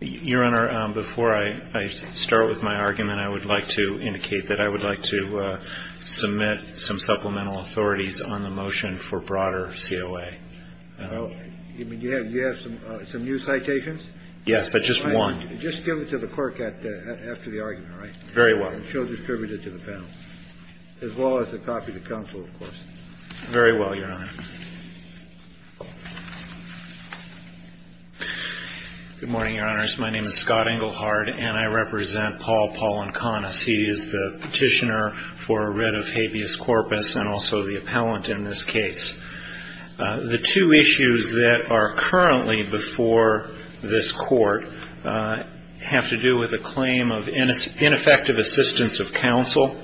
Your Honor, before I start with my argument, I would like to indicate that I would like to submit some supplemental authorities on the motion for broader COA. You have some new citations? Yes, just one. Just give it to the clerk after the argument, all right? Very well. And she'll distribute it to the panel, as well as a copy to counsel, of course. Very well, Your Honor. Good morning, Your Honors. My name is Scott Engelhard, and I represent Paul Polinkonis. He is the petitioner for writ of habeas corpus and also the appellant in this case. The two issues that are currently before this court have to do with a claim of ineffective assistance of counsel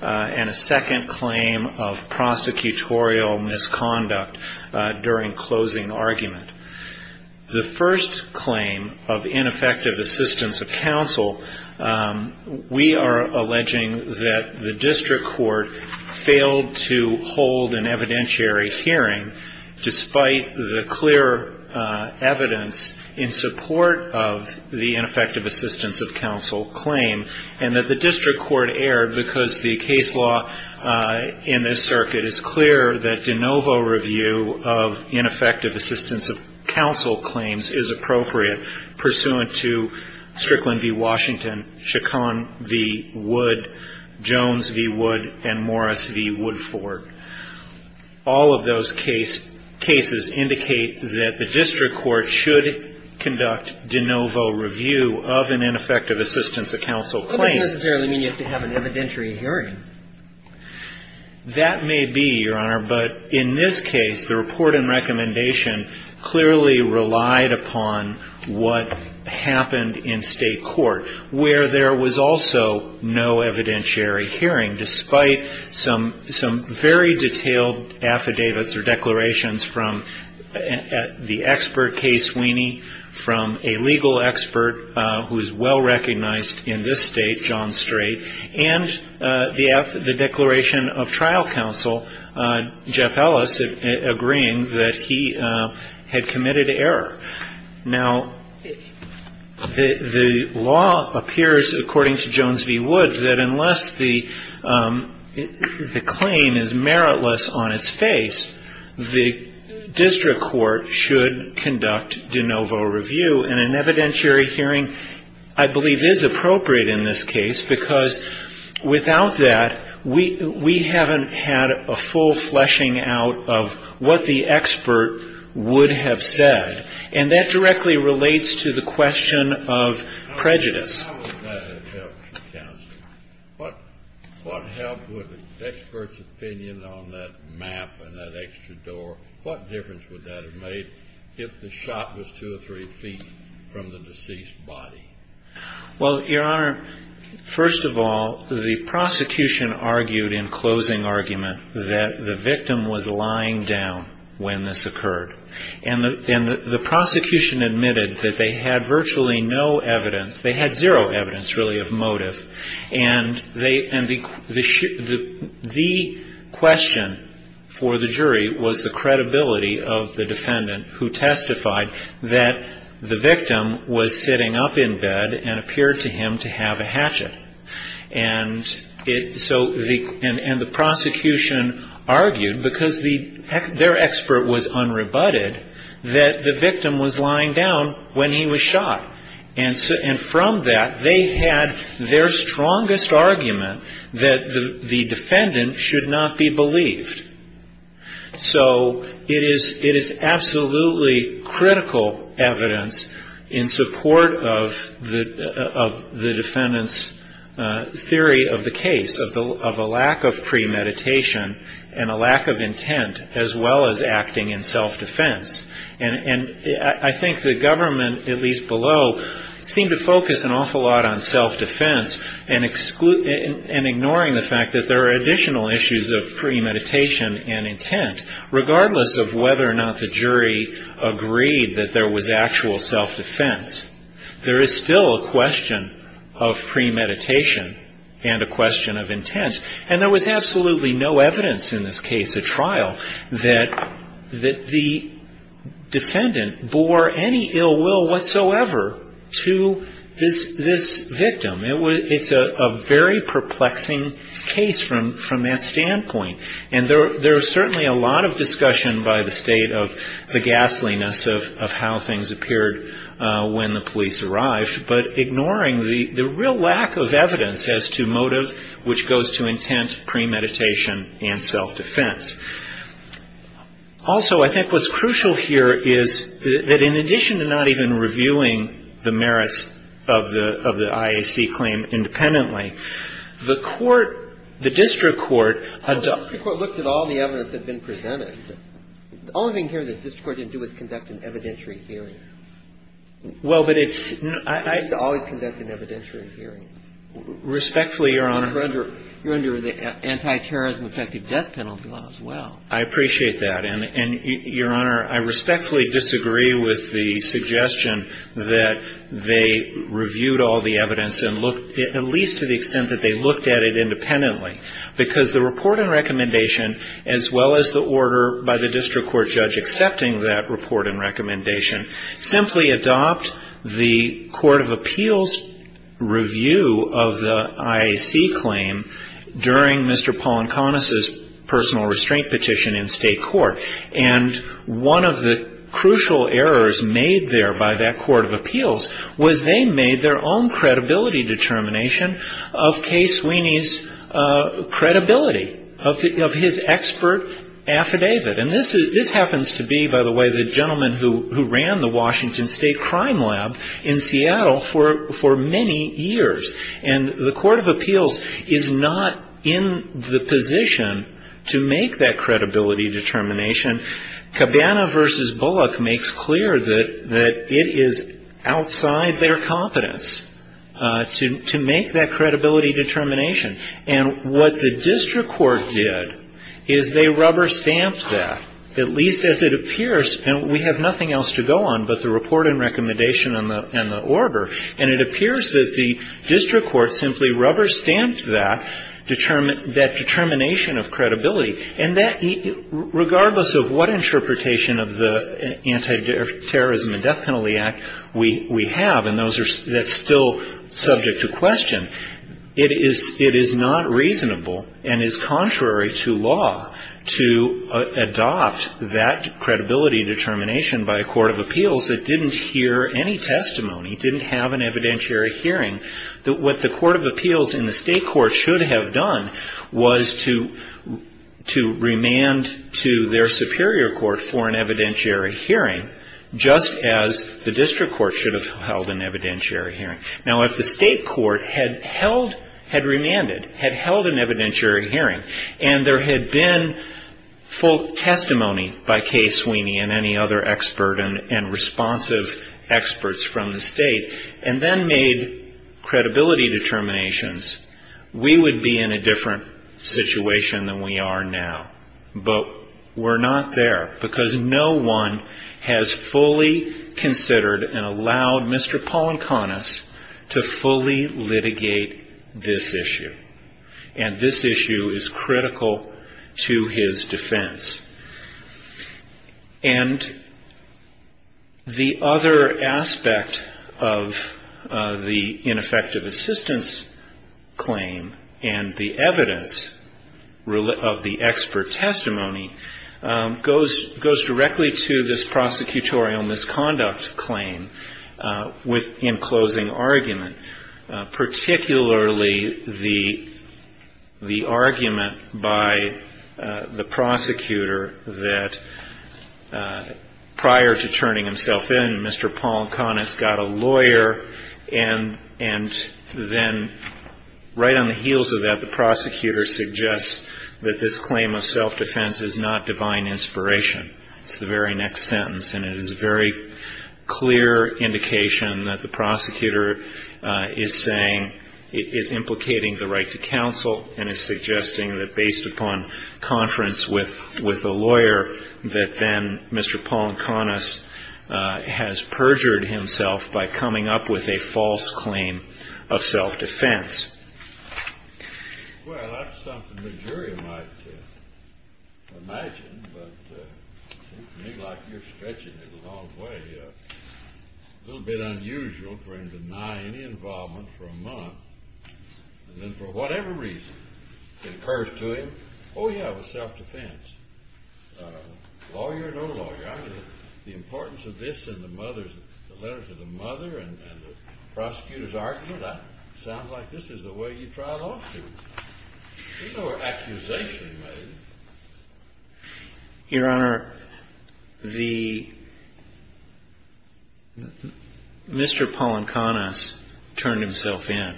and a second claim of prosecutorial misconduct during closing argument. The first claim of ineffective assistance of counsel, we are alleging that the district court failed to hold an evidentiary hearing despite the clear evidence in support of the ineffective assistance of counsel claim and that the district court erred because the case law in this circuit is clear that de novo review of ineffective assistance of counsel claims is appropriate pursuant to Strickland v. Washington, Chacon v. Wood, Jones v. Wood, and Morris v. Woodford. All of those cases indicate that the district court should conduct de novo review of an ineffective assistance of counsel claim. That doesn't necessarily mean you have to have an evidentiary hearing. That may be, Your Honor, but in this case, the report and recommendation clearly relied upon what happened in State court, where there was also no evidentiary hearing despite some very detailed affidavits or declarations from the expert, Kay Sweeney, from a legal expert who is well recognized in this State, John Strait, and the declaration of trial counsel, Jeff Ellis, agreeing that he had committed error. Now, the law appears, according to Jones v. Wood, that unless the claim is meritless on its face, the district court should conduct de novo review. And an evidentiary hearing, I believe, is appropriate in this case because without that, we haven't had a full fleshing out of what the expert would have said. And that directly relates to the question of prejudice. How would that have helped, counsel? What helped with the expert's opinion on that map and that extra door? What difference would that have made if the shot was two or three feet from the deceased body? Well, Your Honor, first of all, the prosecution argued in closing argument that the victim was lying down when this occurred. And the prosecution admitted that they had virtually no evidence. They had zero evidence, really, of motive. And the question for the jury was the credibility of the defendant who testified that the victim was sitting up in bed and appeared to him to have a hatchet. And so the prosecution argued, because their expert was unrebutted, that the victim was lying down when he was shot. And from that, they had their strongest argument that the defendant should not be believed. So it is absolutely critical evidence in support of the defendant's theory of the case, of a lack of premeditation and a lack of intent, as well as acting in self-defense. And I think the government, at least below, seemed to focus an awful lot on self-defense and ignoring the fact that there are additional issues of premeditation and intent. Regardless of whether or not the jury agreed that there was actual self-defense, there is still a question of premeditation and a question of intent. And there was absolutely no evidence in this case at trial that the defendant bore any ill will whatsoever to this victim. It's a very perplexing case from that standpoint. And there was certainly a lot of discussion by the state of the ghastliness of how things appeared when the police arrived, but ignoring the real lack of evidence as to motive which goes to intent, premeditation, and self-defense. Also, I think what's crucial here is that in addition to not even reviewing the merits of the IAC claim independently, the court, the district court adopted — The district court looked at all the evidence that had been presented. The only thing here that the district court didn't do was conduct an evidentiary hearing. Well, but it's — They always conduct an evidentiary hearing. Respectfully, Your Honor — You're under the anti-terrorism effective death penalty law as well. I appreciate that. And, Your Honor, I respectfully disagree with the suggestion that they reviewed all the evidence and looked — at least to the extent that they looked at it independently. Because the report and recommendation, as well as the order by the district court judge accepting that report and recommendation, simply adopt the Court of Appeals' review of the IAC claim during Mr. Polonconis' personal restraint petition in state court. And one of the crucial errors made there by that Court of Appeals was they made their own credibility determination of Kay Sweeney's credibility, of his expert affidavit. And this happens to be, by the way, the gentleman who ran the Washington State Crime Lab in Seattle for many years. And the Court of Appeals is not in the position to make that credibility determination. Cabana v. Bullock makes clear that it is outside their competence to make that credibility determination. And what the district court did is they rubber-stamped that, at least as it appears. And we have nothing else to go on but the report and recommendation and the order. And it appears that the district court simply rubber-stamped that determination of credibility. And regardless of what interpretation of the Anti-Terrorism and Death Penalty Act we have, and that's still subject to question, it is not reasonable and is contrary to law to adopt that credibility determination by a court of appeals that didn't hear any testimony, didn't have an evidentiary hearing. What the court of appeals in the state court should have done was to remand to their superior court for an evidentiary hearing, just as the district court should have held an evidentiary hearing. Now, if the state court had held, had remanded, had held an evidentiary hearing, and there had been full testimony by Kay Sweeney and any other expert and responsive experts from the state, and then made credibility determinations, we would be in a different situation than we are now. But we're not there, because no one has fully considered and allowed Mr. Polonconis to fully litigate this issue. And this issue is critical to his defense. And the other aspect of the ineffective assistance claim and the evidence of the expert testimony goes directly to this prosecutorial that prior to turning himself in, Mr. Polonconis got a lawyer and then right on the heels of that, the prosecutor suggests that this claim of self-defense is not divine inspiration. It's the very next sentence. And it is a very clear indication that the prosecutor is saying, is implicating the right to counsel and is suggesting that based upon conference with a lawyer, that then Mr. Polonconis has perjured himself by coming up with a false claim of self-defense. Well, that's something the jury might imagine, but to me, like you're stretching it a long way, a little bit unusual for him to deny any involvement for a month, and then for whatever reason, it occurs to him, oh, yeah, it was self-defense. Lawyer, no lawyer. I mean, the importance of this in the letters to the mother and the prosecutor's argument, that sounds like this is the way you trial lawsuits. There's no accusation made. Your Honor, Mr. Polonconis turned himself in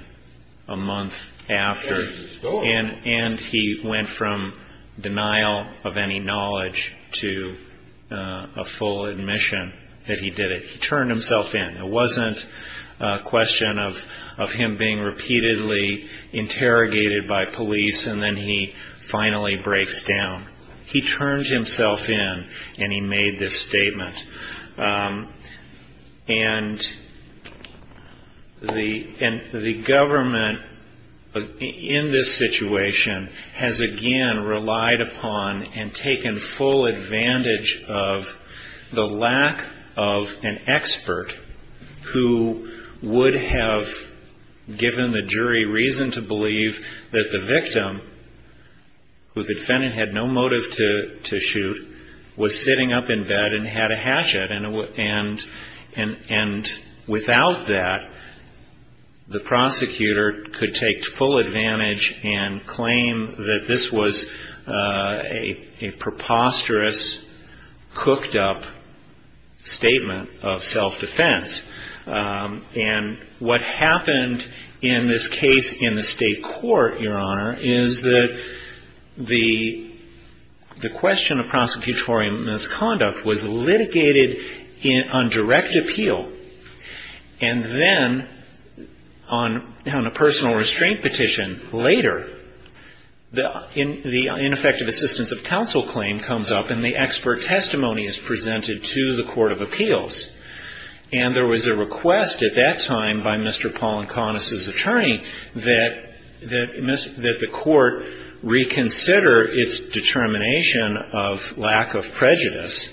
a month after, and he went from denial of any knowledge to a full admission that he did it. He turned himself in. It wasn't a question of him being repeatedly interrogated by police, and then he finally breaks down. He turned himself in, and he made this statement. And the government in this situation has again relied upon and taken full advantage of the lack of an expert who would have given the jury reason to believe that the victim, who the defendant had no motive to shoot, was sitting up in bed and had a hatchet. And without that, the prosecutor could take full advantage and claim that this was a preposterous, cooked-up statement of self-defense. And what happened in this case in the state court, Your Honor, is that the question of prosecutorial misconduct was litigated on direct appeal. And then on a personal restraint petition later, the ineffective assistance of counsel claim comes up, and the expert testimony is presented to the court, and there was a request at that time by Mr. Polonconis's attorney that the court reconsider its determination of lack of prejudice,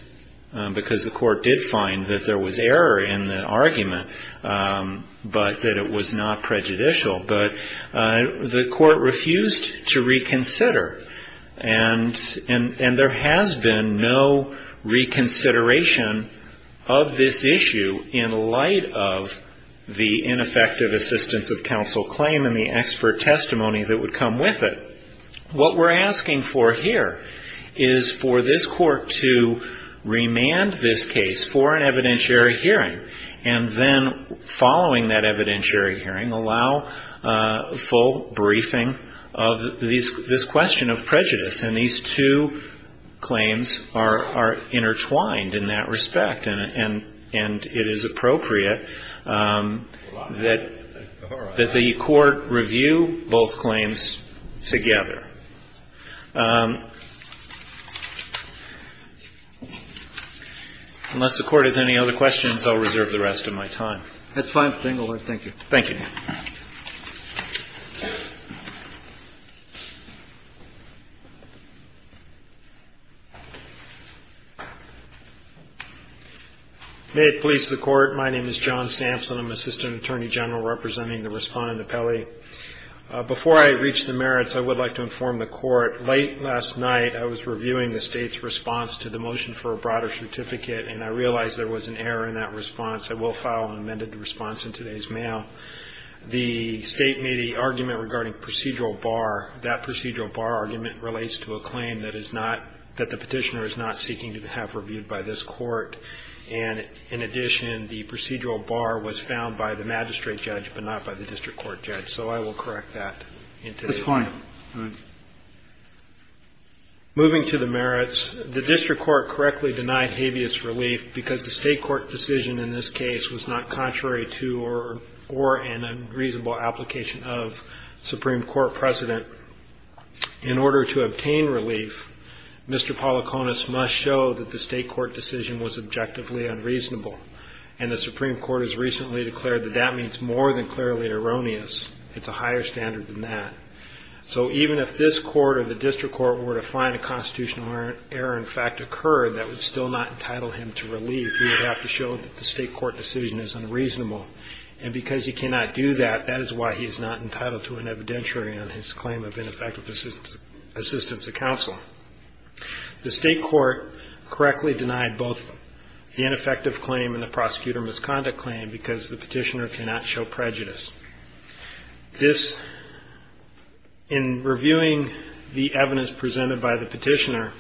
because the court did find that there was error in the argument, but that it was not prejudicial. But the court refused to reconsider, and there has been no reconsideration of this issue in light of the ineffective assistance of counsel claim and the expert testimony that would come with it. What we're asking for here is for this court to remand this case for an evidentiary hearing, and then following that evidentiary hearing, allow full briefing of this question of prejudice. And these two claims are intertwined in that respect, and it is appropriate that the court review both claims together. Unless the Court has any other questions, I'll reserve the rest of my time. That's fine. Thank you. Thank you. May it please the Court. My name is John Sampson. I'm Assistant Attorney General representing the Respondent Appellee. Before I reach the merits, I would like to inform the Court. Late last night, I was reviewing the State's response to the motion for a broader certificate, and I realized there was an error in that response. I will file an amended response in today's mail. The State made the argument regarding procedural bar. That procedural bar argument relates to a claim that is not – that the Petitioner is not seeking to have reviewed by this Court. And in addition, the procedural bar was found by the magistrate judge, but not by the district court judge. So I will correct that in today's mail. That's fine. All right. Moving to the merits, the district court correctly denied habeas relief because the state court decision in this case was not contrary to or an unreasonable application of Supreme Court precedent. In order to obtain relief, Mr. Polokonis must show that the state court decision was objectively unreasonable, and the Supreme Court has recently declared that that means more than clearly erroneous. It's a higher standard than that. So even if this court or the district court were to find a constitutional error in fact occurred, that would still not entitle him to relief. He would have to show that the state court decision is unreasonable. And because he cannot do that, that is why he is not entitled to an evidentiary on his claim of ineffective assistance to counsel. The state court correctly denied both the ineffective claim and the prosecutor misconduct claim because the Petitioner cannot show prejudice. This – in reviewing the evidence presented by the Petitioner,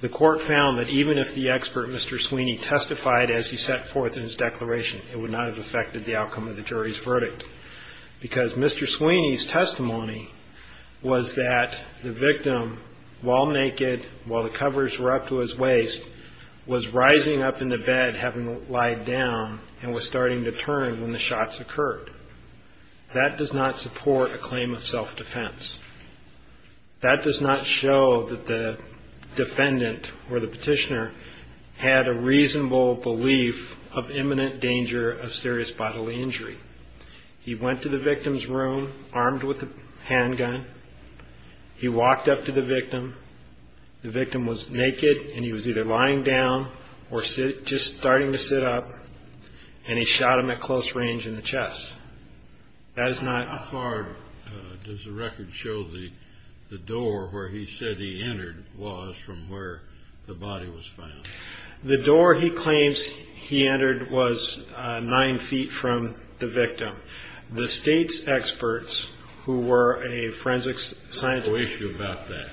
the court found that even if the expert, Mr. Sweeney, testified as he set forth in his declaration, it would not have affected the outcome of the jury's verdict. Because Mr. Sweeney's testimony was that the victim, while naked, while the covers were up to his waist, was rising up in the bed having lied down and was starting to turn when the shots occurred. That does not support a claim of self-defense. That does not show that the defendant or the Petitioner had a reasonable belief of imminent danger of serious bodily injury. He went to the victim's room armed with a handgun. He walked up to the victim. The victim was naked, and he was either lying down or just starting to sit up, and he shot him at close range in the chest. That is not – How far does the record show the door where he said he entered was from where the body was found? The door he claims he entered was nine feet from the victim. The state's experts, who were a forensics scientist – There was no issue about that.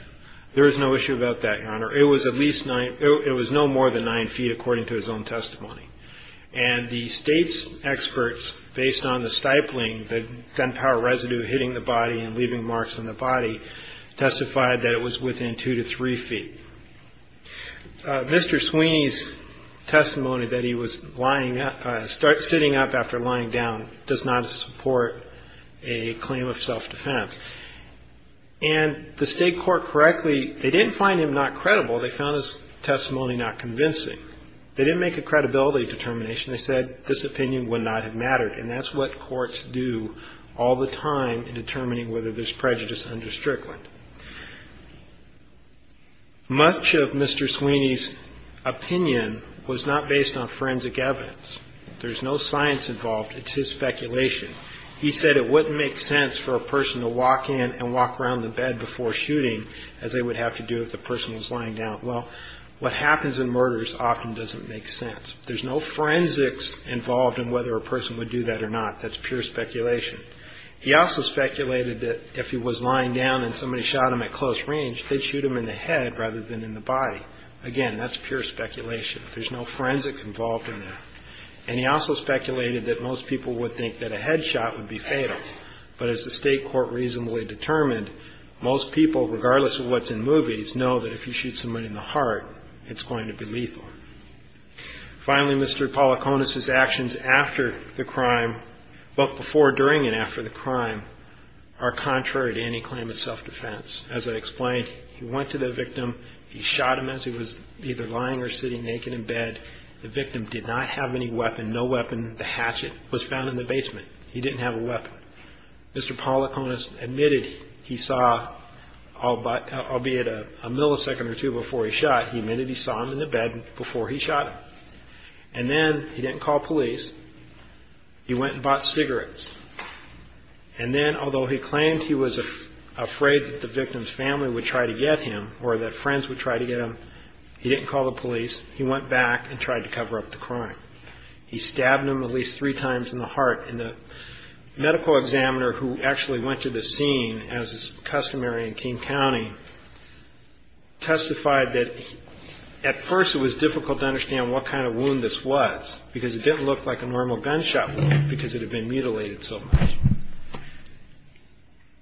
There was no issue about that, Your Honor. It was at least nine – it was no more than nine feet, according to his own testimony. And the state's experts, based on the stifling, the gunpowder residue hitting the body and leaving marks on the body, testified that it was within two to three feet. Mr. Sweeney's testimony that he was lying – sitting up after lying down does not support a claim of self-defense. And the state court correctly – they didn't find him not credible. They found his testimony not convincing. They didn't make a credibility determination. They said this opinion would not have mattered, and that's what courts do all the time in determining whether there's prejudice under Strickland. Much of Mr. Sweeney's opinion was not based on forensic evidence. There's no science involved. It's his speculation. He said it wouldn't make sense for a person to walk in and walk around the bed before shooting, as they would have to do if the person was lying down. Well, what happens in murders often doesn't make sense. There's no forensics involved in whether a person would do that or not. That's pure speculation. He also speculated that if he was lying down and somebody shot him at close range, they'd shoot him in the head rather than in the body. Again, that's pure speculation. There's no forensic involved in that. And he also speculated that most people would think that a head shot would be fatal. But as the state court reasonably determined, most people, regardless of what's in movies, know that if you shoot someone in the heart, it's going to be lethal. Finally, Mr. Polokonis's actions after the crime, both before, during, and after the crime are contrary to any claim of self-defense. As I explained, he went to the victim. He shot him as he was either lying or sitting naked in bed. The victim did not have any weapon, no weapon. The hatchet was found in the basement. He didn't have a weapon. Mr. Polokonis admitted he saw, albeit a millisecond or two before he shot, he admitted he saw him in the bed before he shot him. And then he didn't call police. He went and bought cigarettes. And then, although he claimed he was afraid that the victim's family would try to get him or that friends would try to get him, he didn't call the police. He went back and tried to cover up the crime. He stabbed him at least three times in the heart. And the medical examiner who actually went to the scene, as is customary in King County, testified that at first it was difficult to understand what kind of wound this was because it didn't look like a normal gunshot wound because it had been mutilated so much.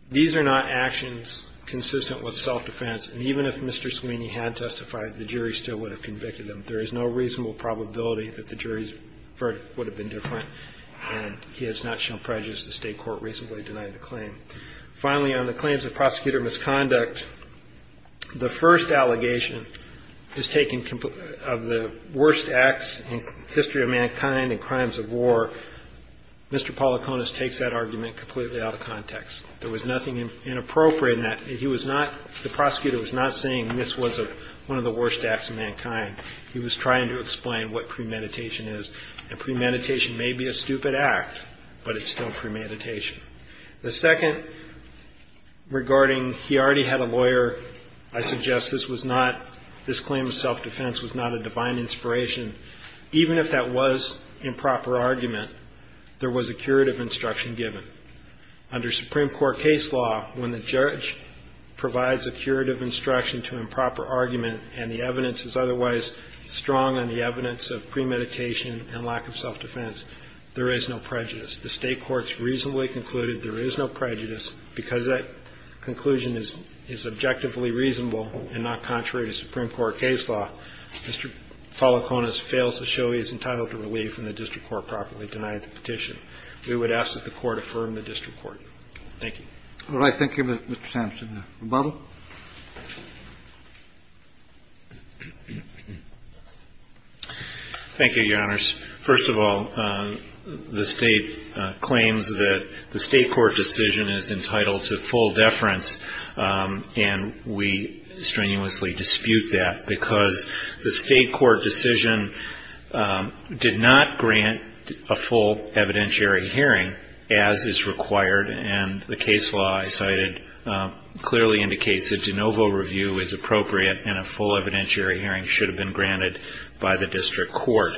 These are not actions consistent with self-defense. And even if Mr. Sweeney had testified, the jury still would have convicted him. There is no reasonable probability that the jury's verdict would have been different. And he has not shown prejudice. The state court recently denied the claim. Finally, on the claims of prosecutor misconduct, the first allegation is taken of the worst acts in the history of mankind and crimes of war. Mr. Policonis takes that argument completely out of context. There was nothing inappropriate in that. The prosecutor was not saying this was one of the worst acts of mankind. He was trying to explain what premeditation is. And premeditation may be a stupid act, but it's still premeditation. The second, regarding he already had a lawyer, I suggest this claim of self-defense was not a divine inspiration. Even if that was improper argument, there was a curative instruction given. Under Supreme Court case law, when the judge provides a curative instruction to improper argument and the evidence is otherwise strong on the evidence of premeditation and lack of self-defense, there is no prejudice. The state court has reasonably concluded there is no prejudice. Because that conclusion is objectively reasonable and not contrary to Supreme Court case law, Mr. Policonis fails to show he is entitled to relief when the district court properly denied the petition. We would ask that the court affirm the district court. Thank you. All right. Thank you, Mr. Sampson. Rebuttal. Thank you, Your Honors. First of all, the state claims that the state court decision is entitled to full deference, and we strenuously dispute that because the state court decision did not grant a full evidentiary hearing, as is required, and the case law I cited clearly indicates that de novo review is appropriate and a full evidentiary hearing should have been granted by the district court.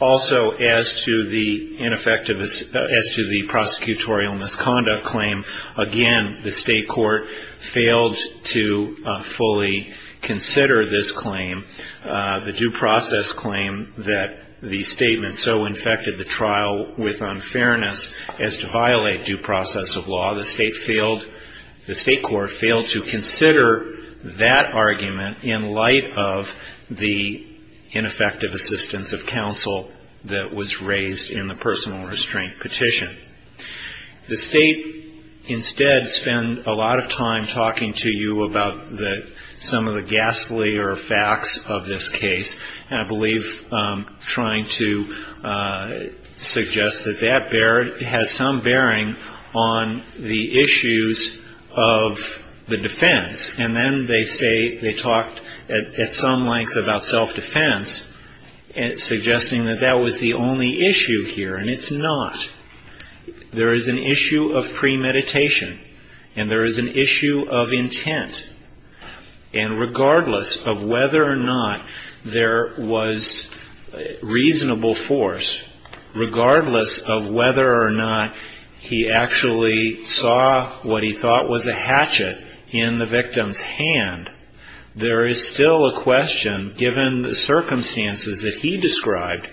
Also, as to the prosecutorial misconduct claim, again, the state court failed to fully consider this claim, the due process claim that the statement so infected the trial with unfairness as to violate due process of law. The state court failed to consider that argument in light of the ineffective assistance of counsel that was raised in the personal restraint petition. The state, instead, spent a lot of time talking to you about some of the ghastly facts of this case, and I believe trying to suggest that that has some bearing on the issues of the defense, and then they talked at some length about self-defense, suggesting that that was the only issue here, and it's not. There is an issue of premeditation, and there is an issue of intent, and regardless of whether or not there was reasonable force, regardless of whether or not he actually saw what he thought was a hatchet in the victim's hand, there is still a question, given the circumstances that he described,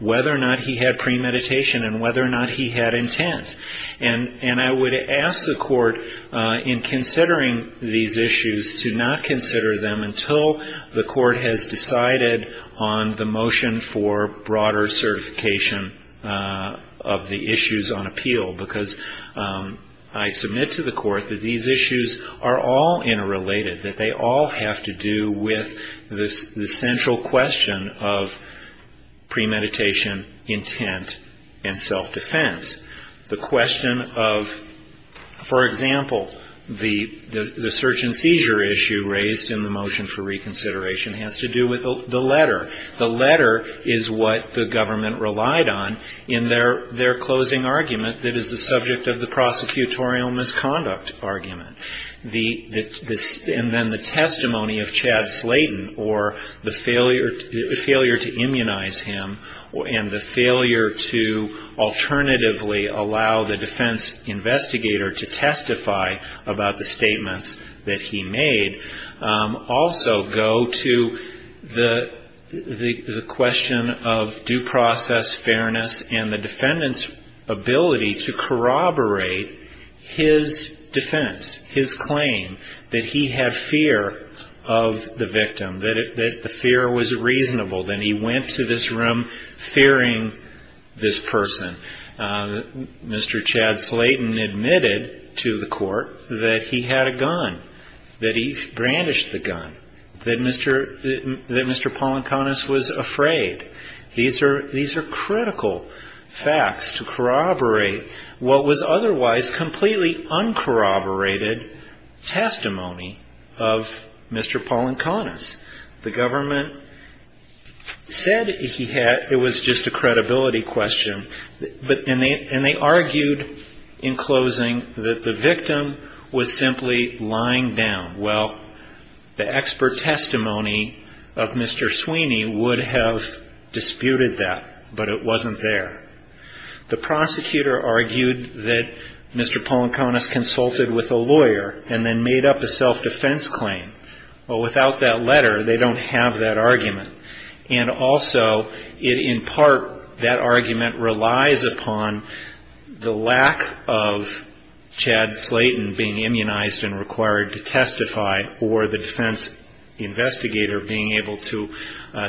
whether or not he had premeditation and whether or not he had intent. And I would ask the court in considering these issues to not consider them until the court has decided on the motion for broader certification of the issues on appeal, because I submit to the court that these issues are all interrelated, that they all have to do with the central question of premeditation, intent, and self-defense. The question of, for example, the search and seizure issue raised in the motion for reconsideration has to do with the letter. The letter is what the government relied on in their closing argument that is the subject of the prosecutorial misconduct argument. And then the testimony of Chad Slayton or the failure to immunize him and the failure to alternatively allow the defense investigator to testify about the statements that he made also go to the question of due process, fairness, and the defendant's ability to corroborate his defense, his claim, that he had fear of the victim, that the fear was reasonable. And he went to this room fearing this person. Mr. Chad Slayton admitted to the court that he had a gun, that he brandished the gun, that Mr. Polonconis was afraid. These are critical facts to corroborate what was otherwise completely uncorroborated testimony of Mr. Polonconis. The government said it was just a credibility question, and they argued in closing that the victim was simply lying down. Well, the expert testimony of Mr. Sweeney would have disputed that, but it wasn't there. The prosecutor argued that Mr. Polonconis consulted with a lawyer and then made up a self-defense claim. Well, without that letter, they don't have that argument. And also, in part, that argument relies upon the lack of Chad Slayton being immunized and required to testify or the defense investigator being able to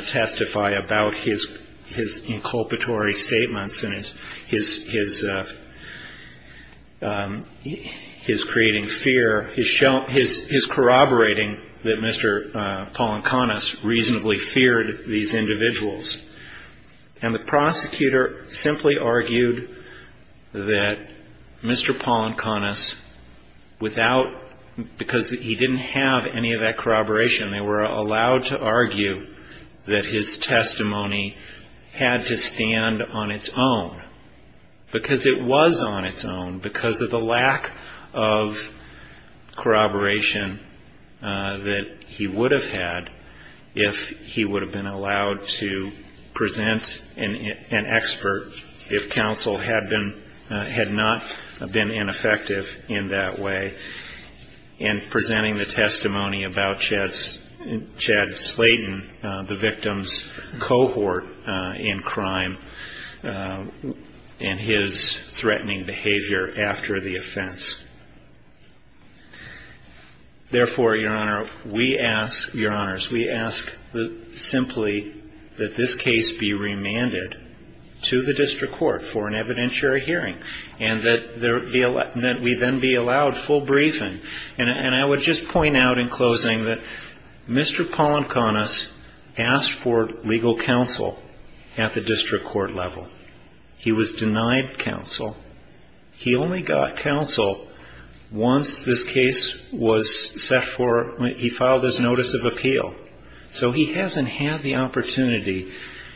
testify about his inculpatory statements and his corroborating that Mr. Polonconis reasonably feared these individuals. And the prosecutor simply argued that Mr. Polonconis, because he didn't have any of that corroboration, they were allowed to argue that his testimony had to stand on its own. Because it was on its own, because of the lack of corroboration that he would have had if he would have been allowed to present an expert if counsel had not been ineffective in that way and presenting the testimony about Chad Slayton, the victim's cohort in crime, and his threatening behavior after the offense. Therefore, Your Honor, we ask simply that this case be remanded to the district court for an evidentiary hearing and that we then be allowed full briefing. And I would just point out in closing that Mr. Polonconis asked for legal counsel at the district court level. He was denied counsel. He only got counsel once this case was set for, he filed his notice of appeal. So he hasn't had the opportunity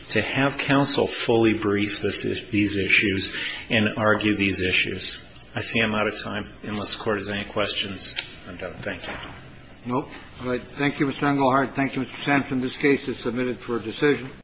to have counsel fully brief these issues and argue these issues. I see I'm out of time. Unless the Court has any questions, I'm done. Thank you. No. All right. Thank you, Mr. Engelhardt. Thank you, Mr. Sampson. This case is submitted for decision.